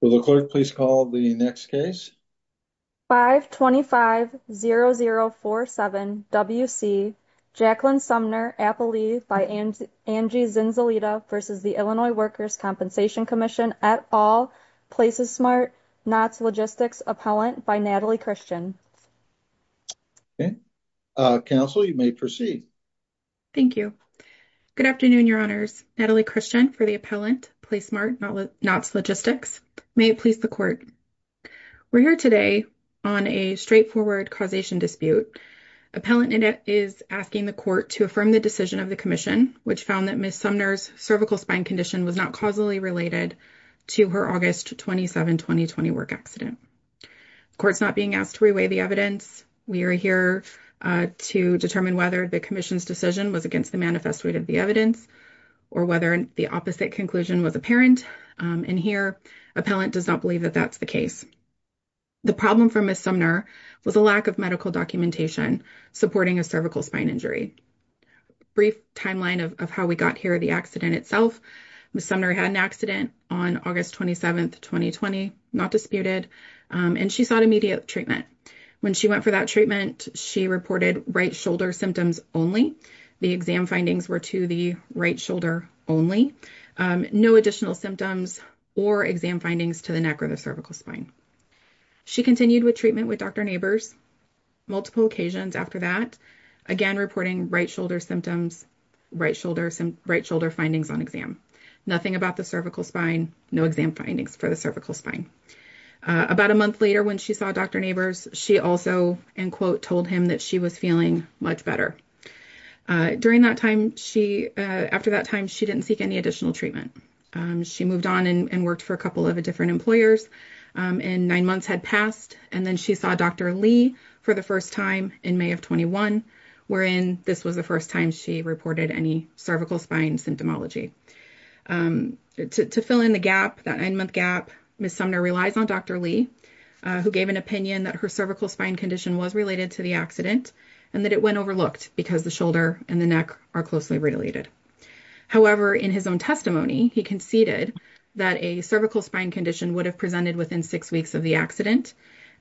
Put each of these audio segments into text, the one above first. Will the clerk please call the next case? 525-0047-WC, Jacqueline Sumner, Appalee v. Angie Zinzolita v. the Illinois Workers' Compensation Commission, et al., Places Smart, Knott's Logistics, Appellant v. Natalie Christian. Okay. Counsel, you may proceed. Thank you. Good afternoon, Your Honors. Natalie Christian for the Appellant, Places Smart, Knott's Logistics. May it please the Court. We're here today on a straightforward causation dispute. Appellant is asking the Court to affirm the decision of the Commission, which found that Ms. Sumner's cervical spine condition was not causally related to her August 27, 2020 work accident. The Court's not being asked to reweigh the evidence. We are here to determine whether the Commission's was against the manifesto of the evidence or whether the opposite conclusion was apparent. And here, Appellant does not believe that that's the case. The problem for Ms. Sumner was a lack of medical documentation supporting a cervical spine injury. Brief timeline of how we got here, the accident itself. Ms. Sumner had an accident on August 27, 2020, not disputed, and she sought immediate treatment. When she went for that treatment, she reported right shoulder symptoms only. The exam findings were to the right shoulder only, no additional symptoms or exam findings to the neck or the cervical spine. She continued with treatment with Dr. Neighbors multiple occasions after that, again reporting right shoulder symptoms, right shoulder findings on exam, nothing about the cervical spine, no exam findings for the cervical spine. About a month later when she saw Dr. Neighbors, she also, and quote, told him that she was feeling much better. During that time, after that time, she didn't seek any additional treatment. She moved on and worked for a couple of different employers, and nine months had passed. And then she saw Dr. Lee for the first time in May of 21, wherein this was the first time she reported any cervical spine symptomology. To fill in the gap, that nine-month gap, Ms. Sumner relies on Dr. Lee who gave an opinion that her cervical spine condition was related to the accident and that it went overlooked because the shoulder and the neck are closely related. However, in his own testimony, he conceded that a cervical spine condition would have presented within six weeks of the accident,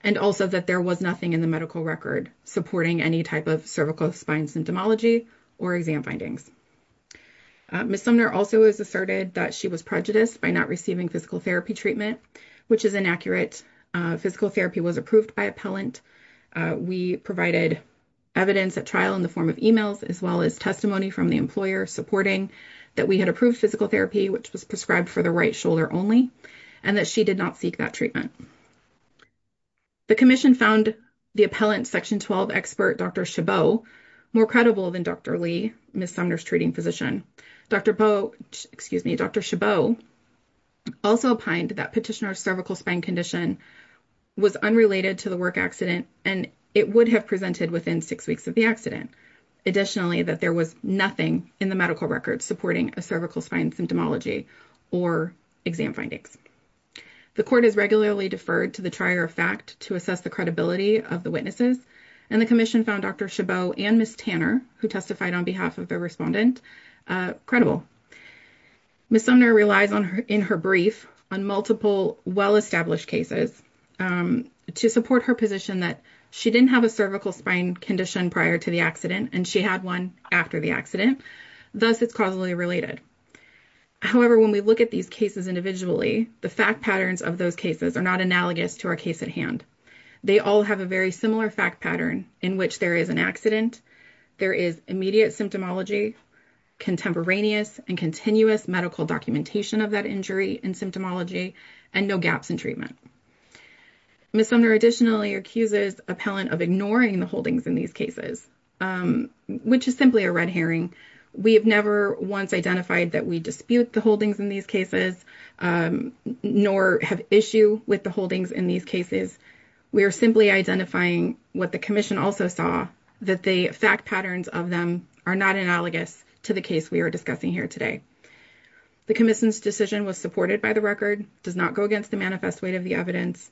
and also that there was nothing in the medical record supporting any type of cervical spine symptomology or exam findings. Ms. Sumner also has asserted that she was prejudiced by not receiving physical therapy treatment, which is inaccurate. Physical evidence at trial in the form of emails, as well as testimony from the employer supporting that we had approved physical therapy, which was prescribed for the right shoulder only, and that she did not seek that treatment. The commission found the appellant section 12 expert, Dr. Chabot, more credible than Dr. Lee, Ms. Sumner's treating physician. Dr. Chabot also opined that petitioner's cervical spine condition was unrelated to the work accident, and it would have presented within six weeks of the accident. Additionally, that there was nothing in the medical record supporting a cervical spine symptomology or exam findings. The court has regularly deferred to the trier of fact to assess the credibility of the witnesses, and the commission found Dr. Chabot and Ms. Tanner, who testified on behalf of the respondent, credible. Ms. Sumner relies in her brief on multiple well-established cases to support her position that she didn't have a cervical spine condition prior to the accident, and she had one after the accident. Thus, it's causally related. However, when we look at these cases individually, the fact patterns of those cases are not analogous to our case at hand. They all have a very similar fact pattern in which there is an accident, there is immediate symptomology, contemporaneous and continuous medical documentation of that injury and symptomology, and no gaps in treatment. Ms. Sumner additionally accuses appellant of ignoring the holdings in these cases, which is simply a red herring. We have never once identified that we dispute the holdings in these cases, nor have issue with the holdings in these cases. We are simply identifying what the commission also saw, that the fact patterns of them are not analogous to the case we are discussing here today. The commission's decision was supported by the record, does not go against the manifest weight of the evidence,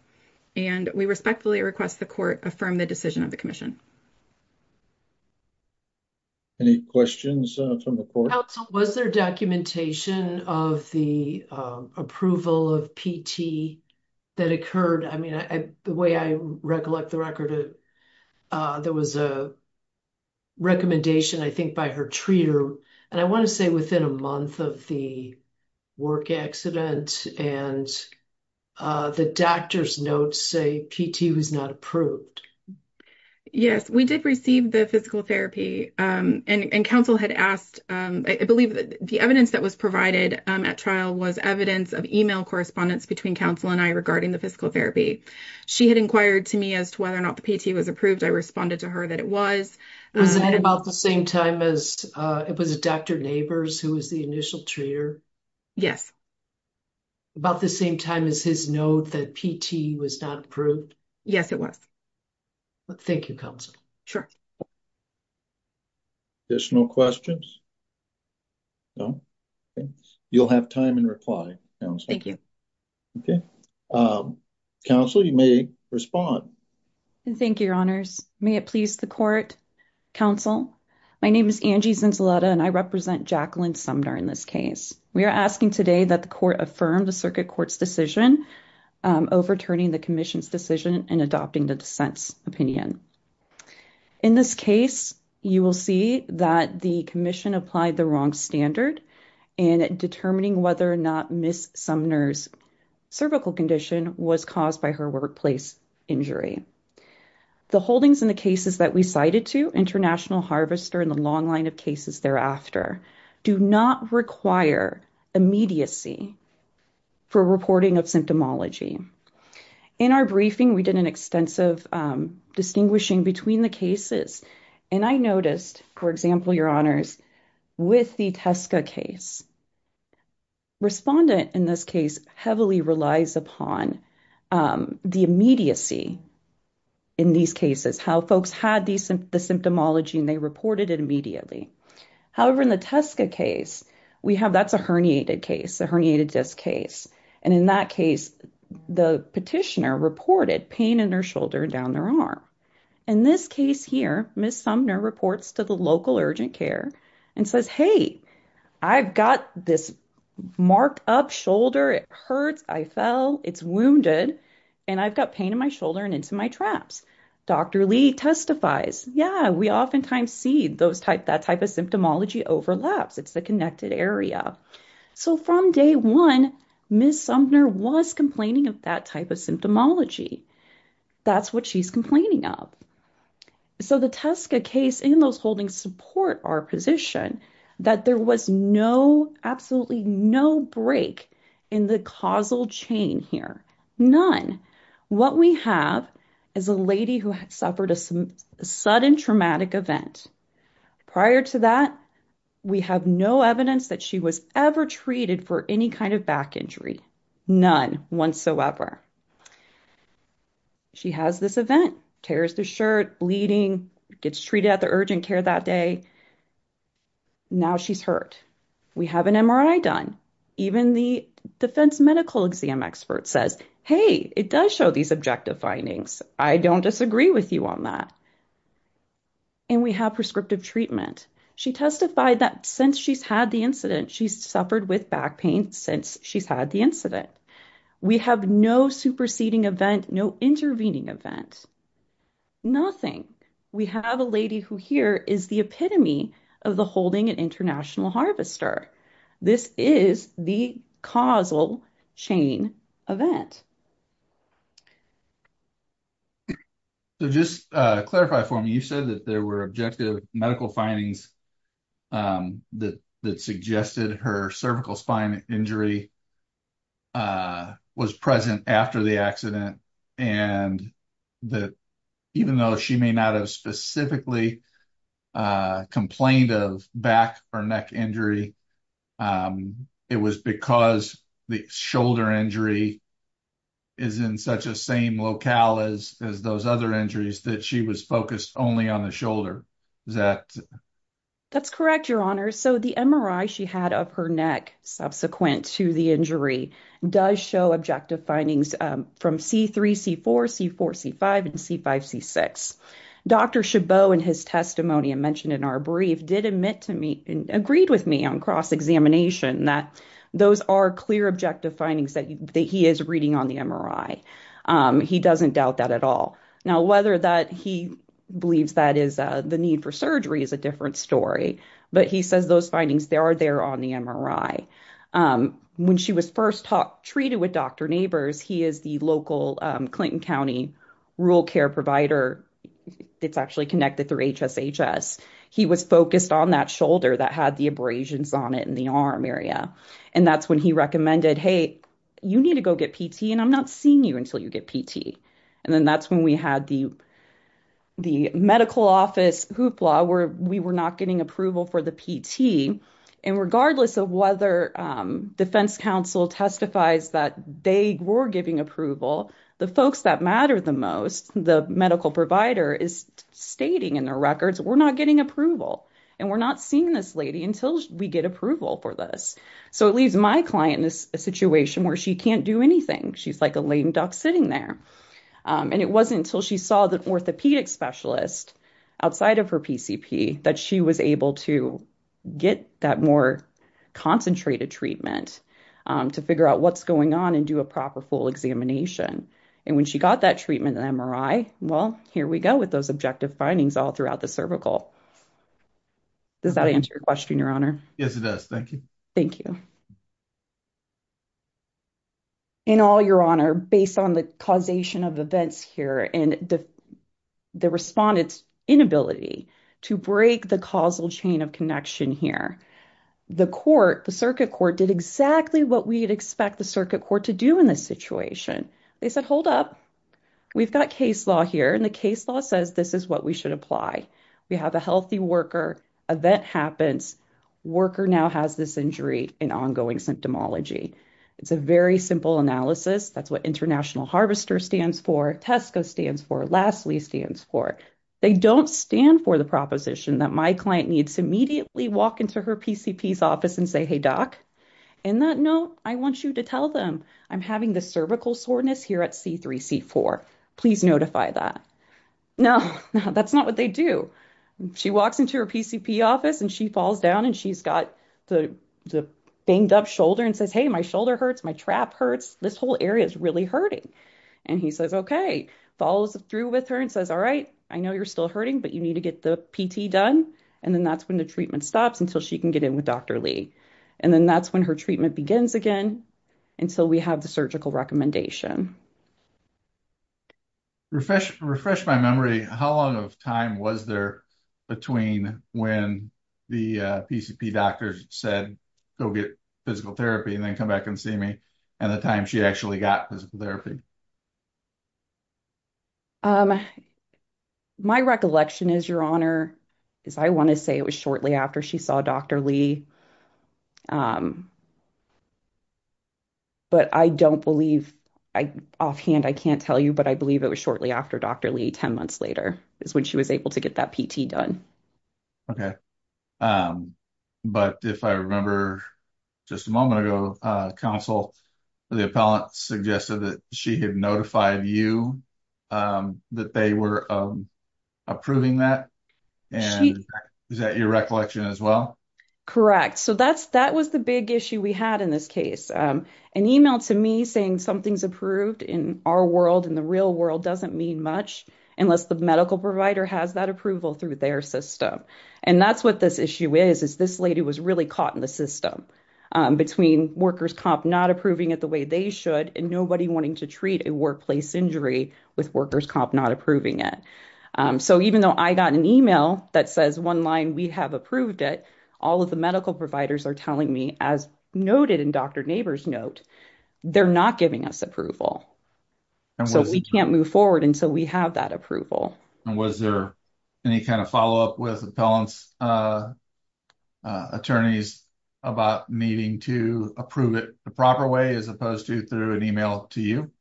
and we respectfully request the court affirm the decision of the commission. Any questions from the court? Counsel, was there documentation of the approval of PT that occurred? I mean, the way I recollect the record, there was a recommendation, I think, by her treater, and I want to say within a month of the work accident, and the doctor's notes say PT was not approved. Yes, we did receive the physical therapy, and counsel had asked, I believe the evidence that was provided at trial was evidence of email correspondence between counsel and I regarding the physical therapy. She had inquired to me as to whether or not the PT was approved. I responded to her that it was. Was that about the same time as, it was Dr. Neighbors who was the initial treater? Yes. About the same time as his note that PT was not approved? Yes, it was. Thank you, counsel. Sure. Additional questions? No? You'll have time in reply. Thank you. Okay. Counsel, you may respond. Thank you, your honors. May it please the court, counsel. My name is Angie Zenzaletta, and I represent Jacqueline Sumner in this case. We are asking today that the court affirm the circuit court's decision overturning the commission's decision and adopting the dissent's opinion. In this case, you will see that the commission applied the wrong standard in determining whether or not Ms. Sumner's cervical condition was caused by her workplace injury. The holdings in the cases that we cited to, International Harvester and the long line of cases thereafter, do not require immediacy for reporting of symptomology. In our briefing, we did an extensive distinguishing between the cases, and I noticed, for example, your honors, with the TSCA case, respondent in this case heavily relies upon the immediacy in these cases, how folks had the symptomology, and they reported it immediately. However, in the TSCA case, we have, that's a herniated case, a herniated disc case, and in that case, the petitioner reported pain in their shoulder and down their arm. In this case here, Ms. Sumner reports to the local urgent care and says, hey, I've got this marked up shoulder, it hurts, I fell, it's wounded, and I've got pain in my shoulder and into my traps. Dr. Lee testifies, yeah, we oftentimes see that type of symptomology overlaps. It's the connected area. So from day one, Ms. Sumner was complaining of that type of symptomology. That's what she's complaining of. So the TSCA case and those support our position that there was no, absolutely no break in the causal chain here, none. What we have is a lady who had suffered a sudden traumatic event. Prior to that, we have no evidence that she was ever treated for any kind of back injury, none whatsoever. She has this event, tears the shirt, bleeding, gets treated at the urgent care that day. Now she's hurt. We have an MRI done. Even the defense medical exam expert says, hey, it does show these objective findings. I don't disagree with you on that. And we have prescriptive treatment. She testified that since she's had the incident, she's suffered with back pain since she's had the incident. We have no superseding event, no intervening event, nothing. We have a lady who here is the epitome of the holding an international harvester. This is the causal chain event. So just clarify for me, you said that there were objective medical findings that suggested her cervical spine injury was present after the accident and that even though she may not have specifically complained of back or neck injury, it was because the shoulder injury is in such a same locale as those other injuries that she was focused only on the shoulder. That's correct, your honor. So the MRI she had of her neck subsequent to the injury does show objective findings from C3, C4, C4, C5, and C5, C6. Dr. Chabot in his testimony and mentioned in our brief did admit to me and agreed with me on cross-examination that those are clear objective findings that he is reading on the MRI. He doesn't doubt that at all. Now, whether that he believes that is the need for surgery is a different story, but he says those findings, they are there on the MRI. When she was first treated with Dr. Neighbors, he is the local Clinton County rural care provider that's actually connected through HSHS. He was focused on that shoulder that had the abrasions on it in the arm area. And that's when he recommended, hey, you need to go get PT and I'm not seeing you until you get PT. And then that's when we had the medical office hoopla where we were not getting approval for the PT. And regardless of whether defense council testifies that they were giving approval, the folks that matter the most, the medical provider is stating in their records, we're not getting approval. And we're not seeing this lady until we get approval for this. So it leaves my client in a situation where she can't do anything. She's like a lame duck sitting there. And it wasn't until she saw the orthopedic specialist outside her PCP that she was able to get that more concentrated treatment to figure out what's going on and do a proper full examination. And when she got that treatment and MRI, well, here we go with those objective findings all throughout the cervical. Does that answer your question, your honor? Yes, it does. Thank you. Thank you. In all your honor, based on the causation of events here and the respondent's inability to break the causal chain of connection here, the court, the circuit court did exactly what we'd expect the circuit court to do in this situation. They said, hold up, we've got case law here and the case law says this is what we should apply. We have a healthy worker, event happens, worker now has this injury and ongoing symptomology. It's a very simple analysis. That's what International Harvester stands for, Tesco stands for, Lassley stands for. They don't stand for the proposition that my client needs to immediately walk into her PCP's office and say, hey, doc, in that note, I want you to tell them I'm having the cervical soreness here at C3C4. Please notify that. No, that's not what they do. She walks into her PCP office and she falls down and she's got the banged up shoulder and says, hey, my shoulder hurts, my trap hurts, this whole area is really hurting. And he says, okay, follows through with her and says, all right, I know you're still hurting, but you need to get the PT done. And then that's when the treatment stops until she can get in with Dr. Lee. And then that's when her treatment begins again until we have the surgical recommendation. Refresh my memory, how long of time was there between when the PCP doctor said go get physical therapy and then come back and see me and the time she actually got physical therapy? My recollection is, your honor, is I want to say it was shortly after she saw Dr. Lee. But I don't believe, offhand, I can't tell you, but I believe it was shortly after Dr. Lee 10 months later is when she was able to get that PT done. Okay, but if I remember just a moment ago, counsel, the appellant suggested that she had notified you that they were approving that. Is that your recollection as well? Correct. So that was the big issue we had in this case. An email to me saying something's approved in our world, in the real world, doesn't mean much unless the medical provider has that system. And that's what this issue is, is this lady was really caught in the system between workers comp not approving it the way they should and nobody wanting to treat a workplace injury with workers comp not approving it. So even though I got an email that says one line, we have approved it, all of the medical providers are telling me, as noted in Dr. Naber's note, they're not giving us approval. So we can't move forward until we have that approval. And was there any kind of follow-up with appellant's attorneys about needing to approve it the proper way as opposed to through an email to you?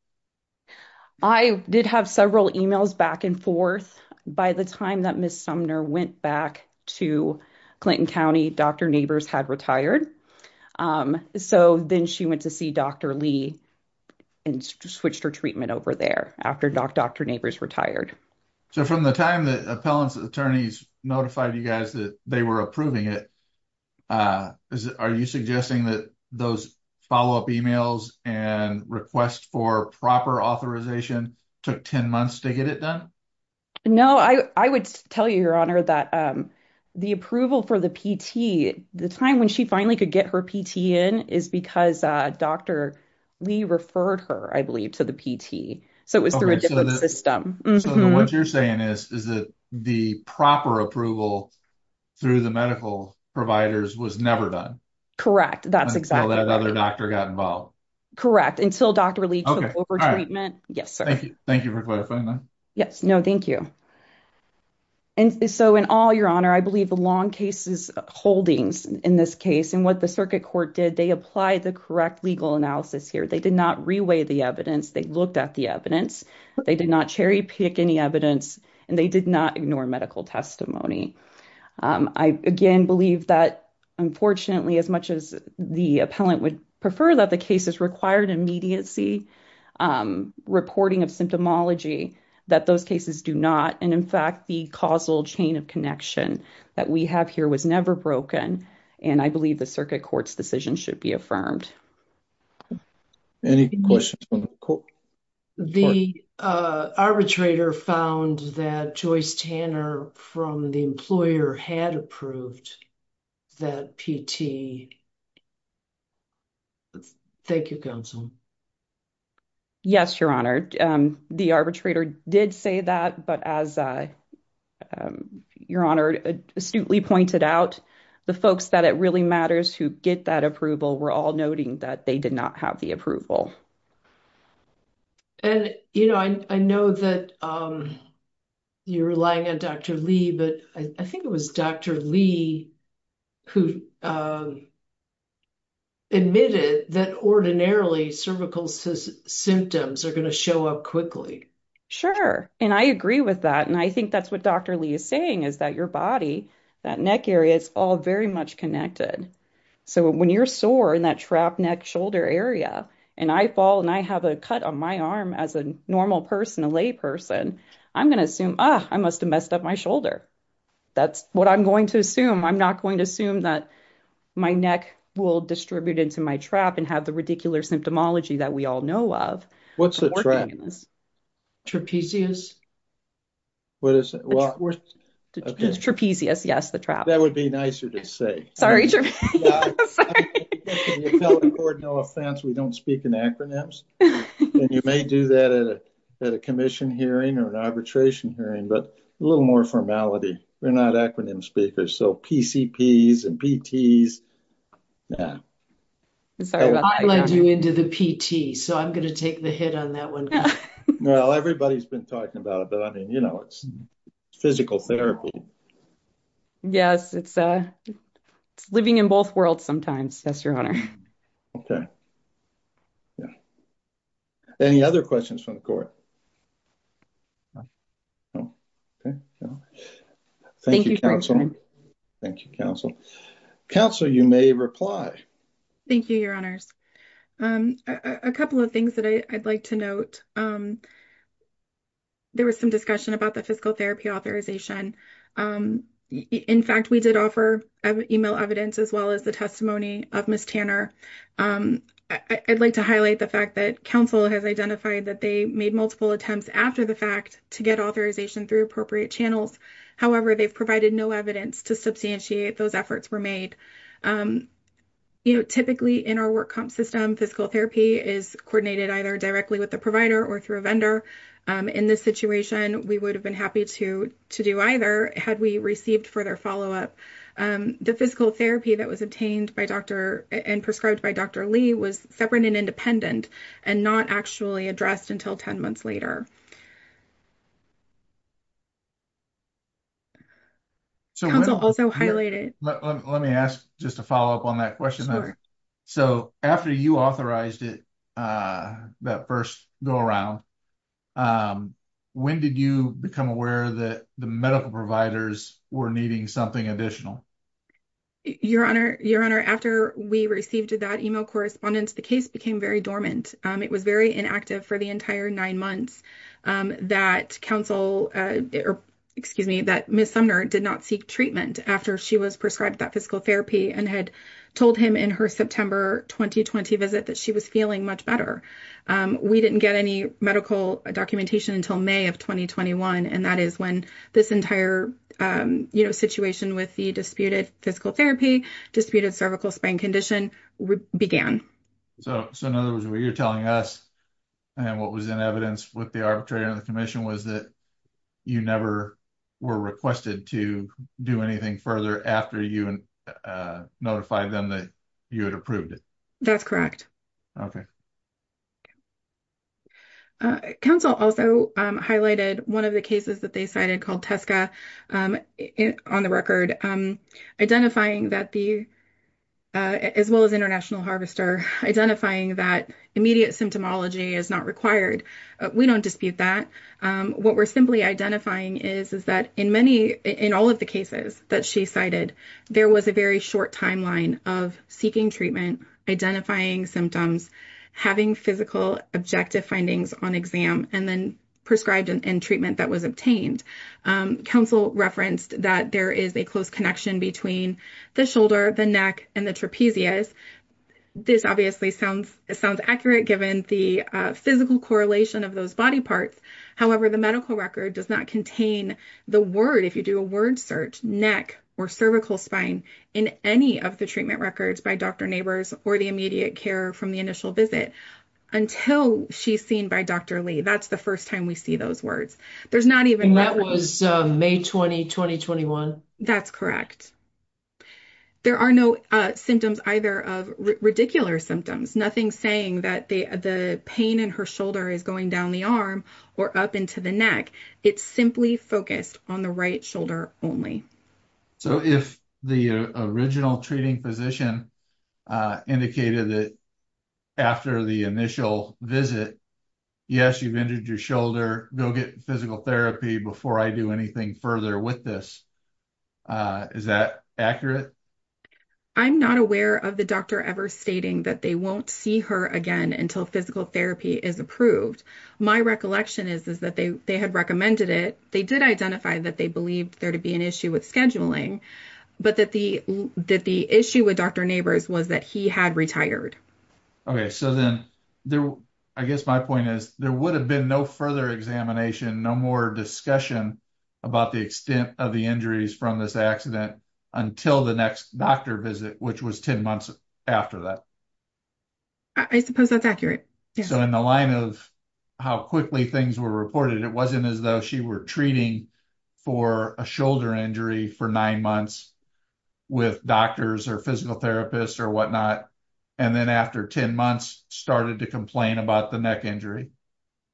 I did have several emails back and forth. By the time that Ms. Sumner went back to Clinton County, Dr. Naber's had retired. So then she went to see Dr. Lee and switched her treatment over there after Dr. Naber's retired. So from the time that appellant's attorneys notified you guys that they were approving it, are you suggesting that those follow-up emails and requests for proper authorization took 10 months to get it done? No, I would tell you, Your Honor, that the approval for the PT, the time when she finally could get her PT in, is because Dr. Lee referred her, I believe, to the PT. So it was through a different system. So then what you're saying is that the proper approval through the medical providers was never done? Correct, that's exactly right. Until that other doctor got involved. Correct, until Dr. Lee took over treatment. Yes, sir. Thank you for clarifying that. Yes, no, thank you. And so in all, Your Honor, I believe the long case's holdings in this case, and what the circuit court did, they applied the correct legal analysis here. They did not reweigh the evidence. They looked at the evidence. They did not cherry pick any evidence, and they did not ignore medical testimony. I, again, believe that, unfortunately, as much as the appellant would prefer that the cases required immediacy reporting of symptomology, that those cases do not. And in fact, the causal chain of connection that we have here was never broken. And I believe the circuit court's decision should be affirmed. Any questions? The arbitrator found that Joyce Tanner from the employer had approved that PT. Thank you, counsel. Yes, Your Honor. The arbitrator did say that, but as I, Your Honor, astutely pointed out, the folks that it really matters who get that approval were all noting that they did not have the approval. And, you know, I know that you're relying on Dr. Lee, but I think it was Dr. Lee who admitted that ordinarily cervical symptoms are going to show up quickly. Sure. And I agree with that. And I think that's what Dr. Lee is saying, is that your body, that neck area, it's all very much connected. So when you're sore in that trap neck shoulder area, and I fall and I have a cut on my arm as a normal person, a lay person, I'm going to assume, ah, I must have messed up my shoulder. That's what I'm going to assume. I'm not going to assume that my neck will distribute into my trap and have the ridiculous symptomology that we all know of. What's the trap? Trapezius. What is it? Trapezius, yes, the trap. That would be nicer to say. Sorry, Trapezius. No offense, we don't speak in acronyms. And you may do that at a commission hearing or an arbitration hearing, but a little more formality. We're not acronym speakers. So hit on that one. Well, everybody's been talking about it, but I mean, you know, it's physical therapy. Yes, it's living in both worlds sometimes. Yes, Your Honor. Okay. Yeah. Any other questions from the court? Thank you, Counsel. Thank you, Counsel. Counsel, you may reply. Thank you, Your Honors. A couple of things that I'd like to note. There was some discussion about the physical therapy authorization. In fact, we did offer email evidence as well as the testimony of Ms. Tanner. I'd like to highlight the fact that Counsel has identified that they made multiple attempts after the fact to get authorization through appropriate channels. However, they've provided no evidence to substantiate those efforts were made. You know, typically in our work comp system, physical therapy is coordinated either directly with the provider or through a vendor. In this situation, we would have been happy to do either had we received further follow-up. The physical therapy that was obtained by Dr. and prescribed by Dr. Lee was separate and and not actually addressed until 10 months later. Let me ask just a follow-up on that question. So after you authorized it, that first go around, when did you become aware that the medical providers were needing something additional? Your Honor, after we received that email correspondence, the case became very dormant. It was very inactive for the entire nine months that Ms. Sumner did not seek treatment after she was prescribed that physical therapy and had told him in her September 2020 visit that she was feeling much better. We didn't get any medical documentation until May of 2021, and that is when this entire situation with the disputed physical therapy, disputed cervical spine condition began. So in other words, what you're telling us and what was in evidence with the arbitrator and the commission was that you never were requested to do anything further after you notified them that you had approved it? That's correct. Okay. Counsel also highlighted one of the cases that they cited called Tesca on the record, identifying that the, as well as International Harvester, identifying that immediate symptomology is not required. We don't dispute that. What we're simply identifying is that in many, in all of the cases that she cited, there was a very short timeline of seeking treatment, identifying symptoms, having physical objective findings on exam, and then prescribed in treatment that was obtained. Counsel referenced that there is a close connection between the shoulder, the neck, and the trapezius. This obviously sounds accurate given the physical correlation of those body parts. However, the medical record does not contain the word, if you do a word search, neck or cervical spine in any of the treatment records by Dr. Neighbors or the immediate care from the initial visit until she's seen by Dr. Lee. That's the first time we see those words. There's not even- And that was May 20, 2021. That's correct. There are no symptoms either of ridiculous symptoms, nothing saying that the pain in her shoulder is going down the arm or up into the neck. It's simply focused on the right shoulder only. If the original treating physician indicated that after the initial visit, yes, you've injured your shoulder, go get physical therapy before I do anything further with this, is that accurate? I'm not aware of the doctor ever stating that they won't see her again until physical therapy is approved. My recollection is that they had recommended it. They did identify that they believed there to be an issue with scheduling, but that the issue with Dr. Neighbors was that he had retired. I guess my point is there would have been no further examination, no more discussion about the extent of the injuries from this accident until the next doctor visit, which was 10 months after that. I suppose that's accurate. So in the line of how quickly things were reported, it wasn't as though she were treating for a shoulder injury for nine months with doctors or physical therapists or whatnot, and then after 10 months started to complain about the neck injury?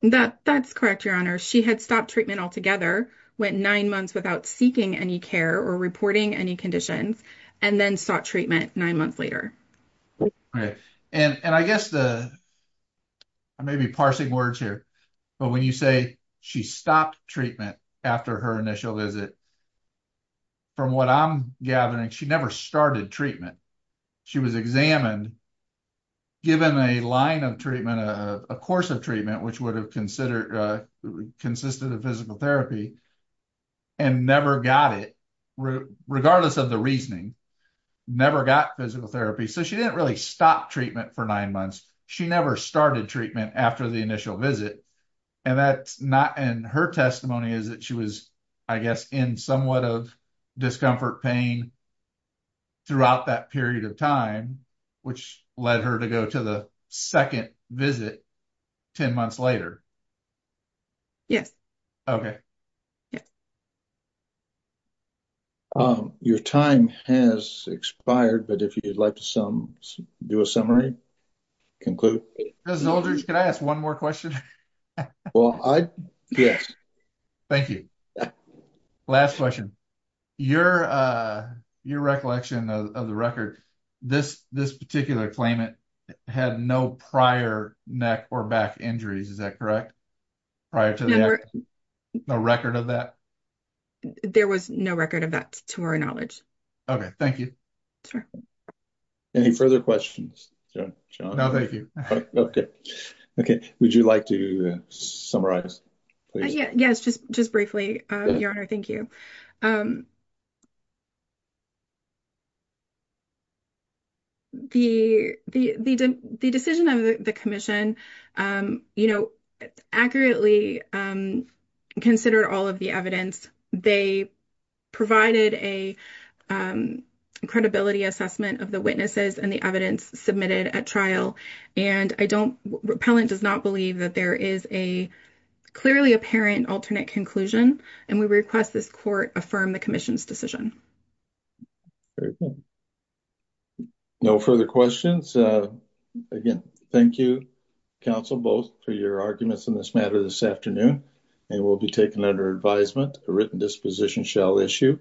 That's correct, Your Honor. She had stopped treatment altogether, went nine months without seeking any care or reporting any conditions, and then sought treatment nine months later. Okay. And I guess the, I may be parsing words here, but when you say she stopped treatment after her initial visit, from what I'm gathering, she never started treatment. She was examined, given a line of treatment, a course of treatment, which would have consisted of physical therapy and never got it, regardless of the reasoning, never got physical therapy. So she didn't really stop treatment for nine months. She never started treatment after the initial visit, and that's not, and her testimony is that she was, I guess, in somewhat of discomfort pain throughout that period of time, which led her to the second visit 10 months later. Yes. Okay. Yes. Your time has expired, but if you'd like to do a summary, conclude. Mr. Eldridge, can I ask one more question? Well, I, yes. Thank you. Last question. Your recollection of the record, this particular claimant had no prior neck or back injuries. Is that correct? Prior to that, no record of that? There was no record of that to our knowledge. Okay. Thank you. Any further questions, John? No, thank you. Okay. Okay. Would you like to summarize, please? Yes. Just briefly, Your Honor. Thank you. The decision of the Commission, you know, accurately considered all of the evidence. They provided a credibility assessment of the witnesses and the evidence submitted at trial, and I don't, repellent does not believe that there is a clearly apparent alternate conclusion, and we request this Court affirm the Commission's decision. Very good. No further questions. Again, thank you, counsel, both for your arguments in this matter this afternoon, and will be taken under advisement. A written disposition shall issue.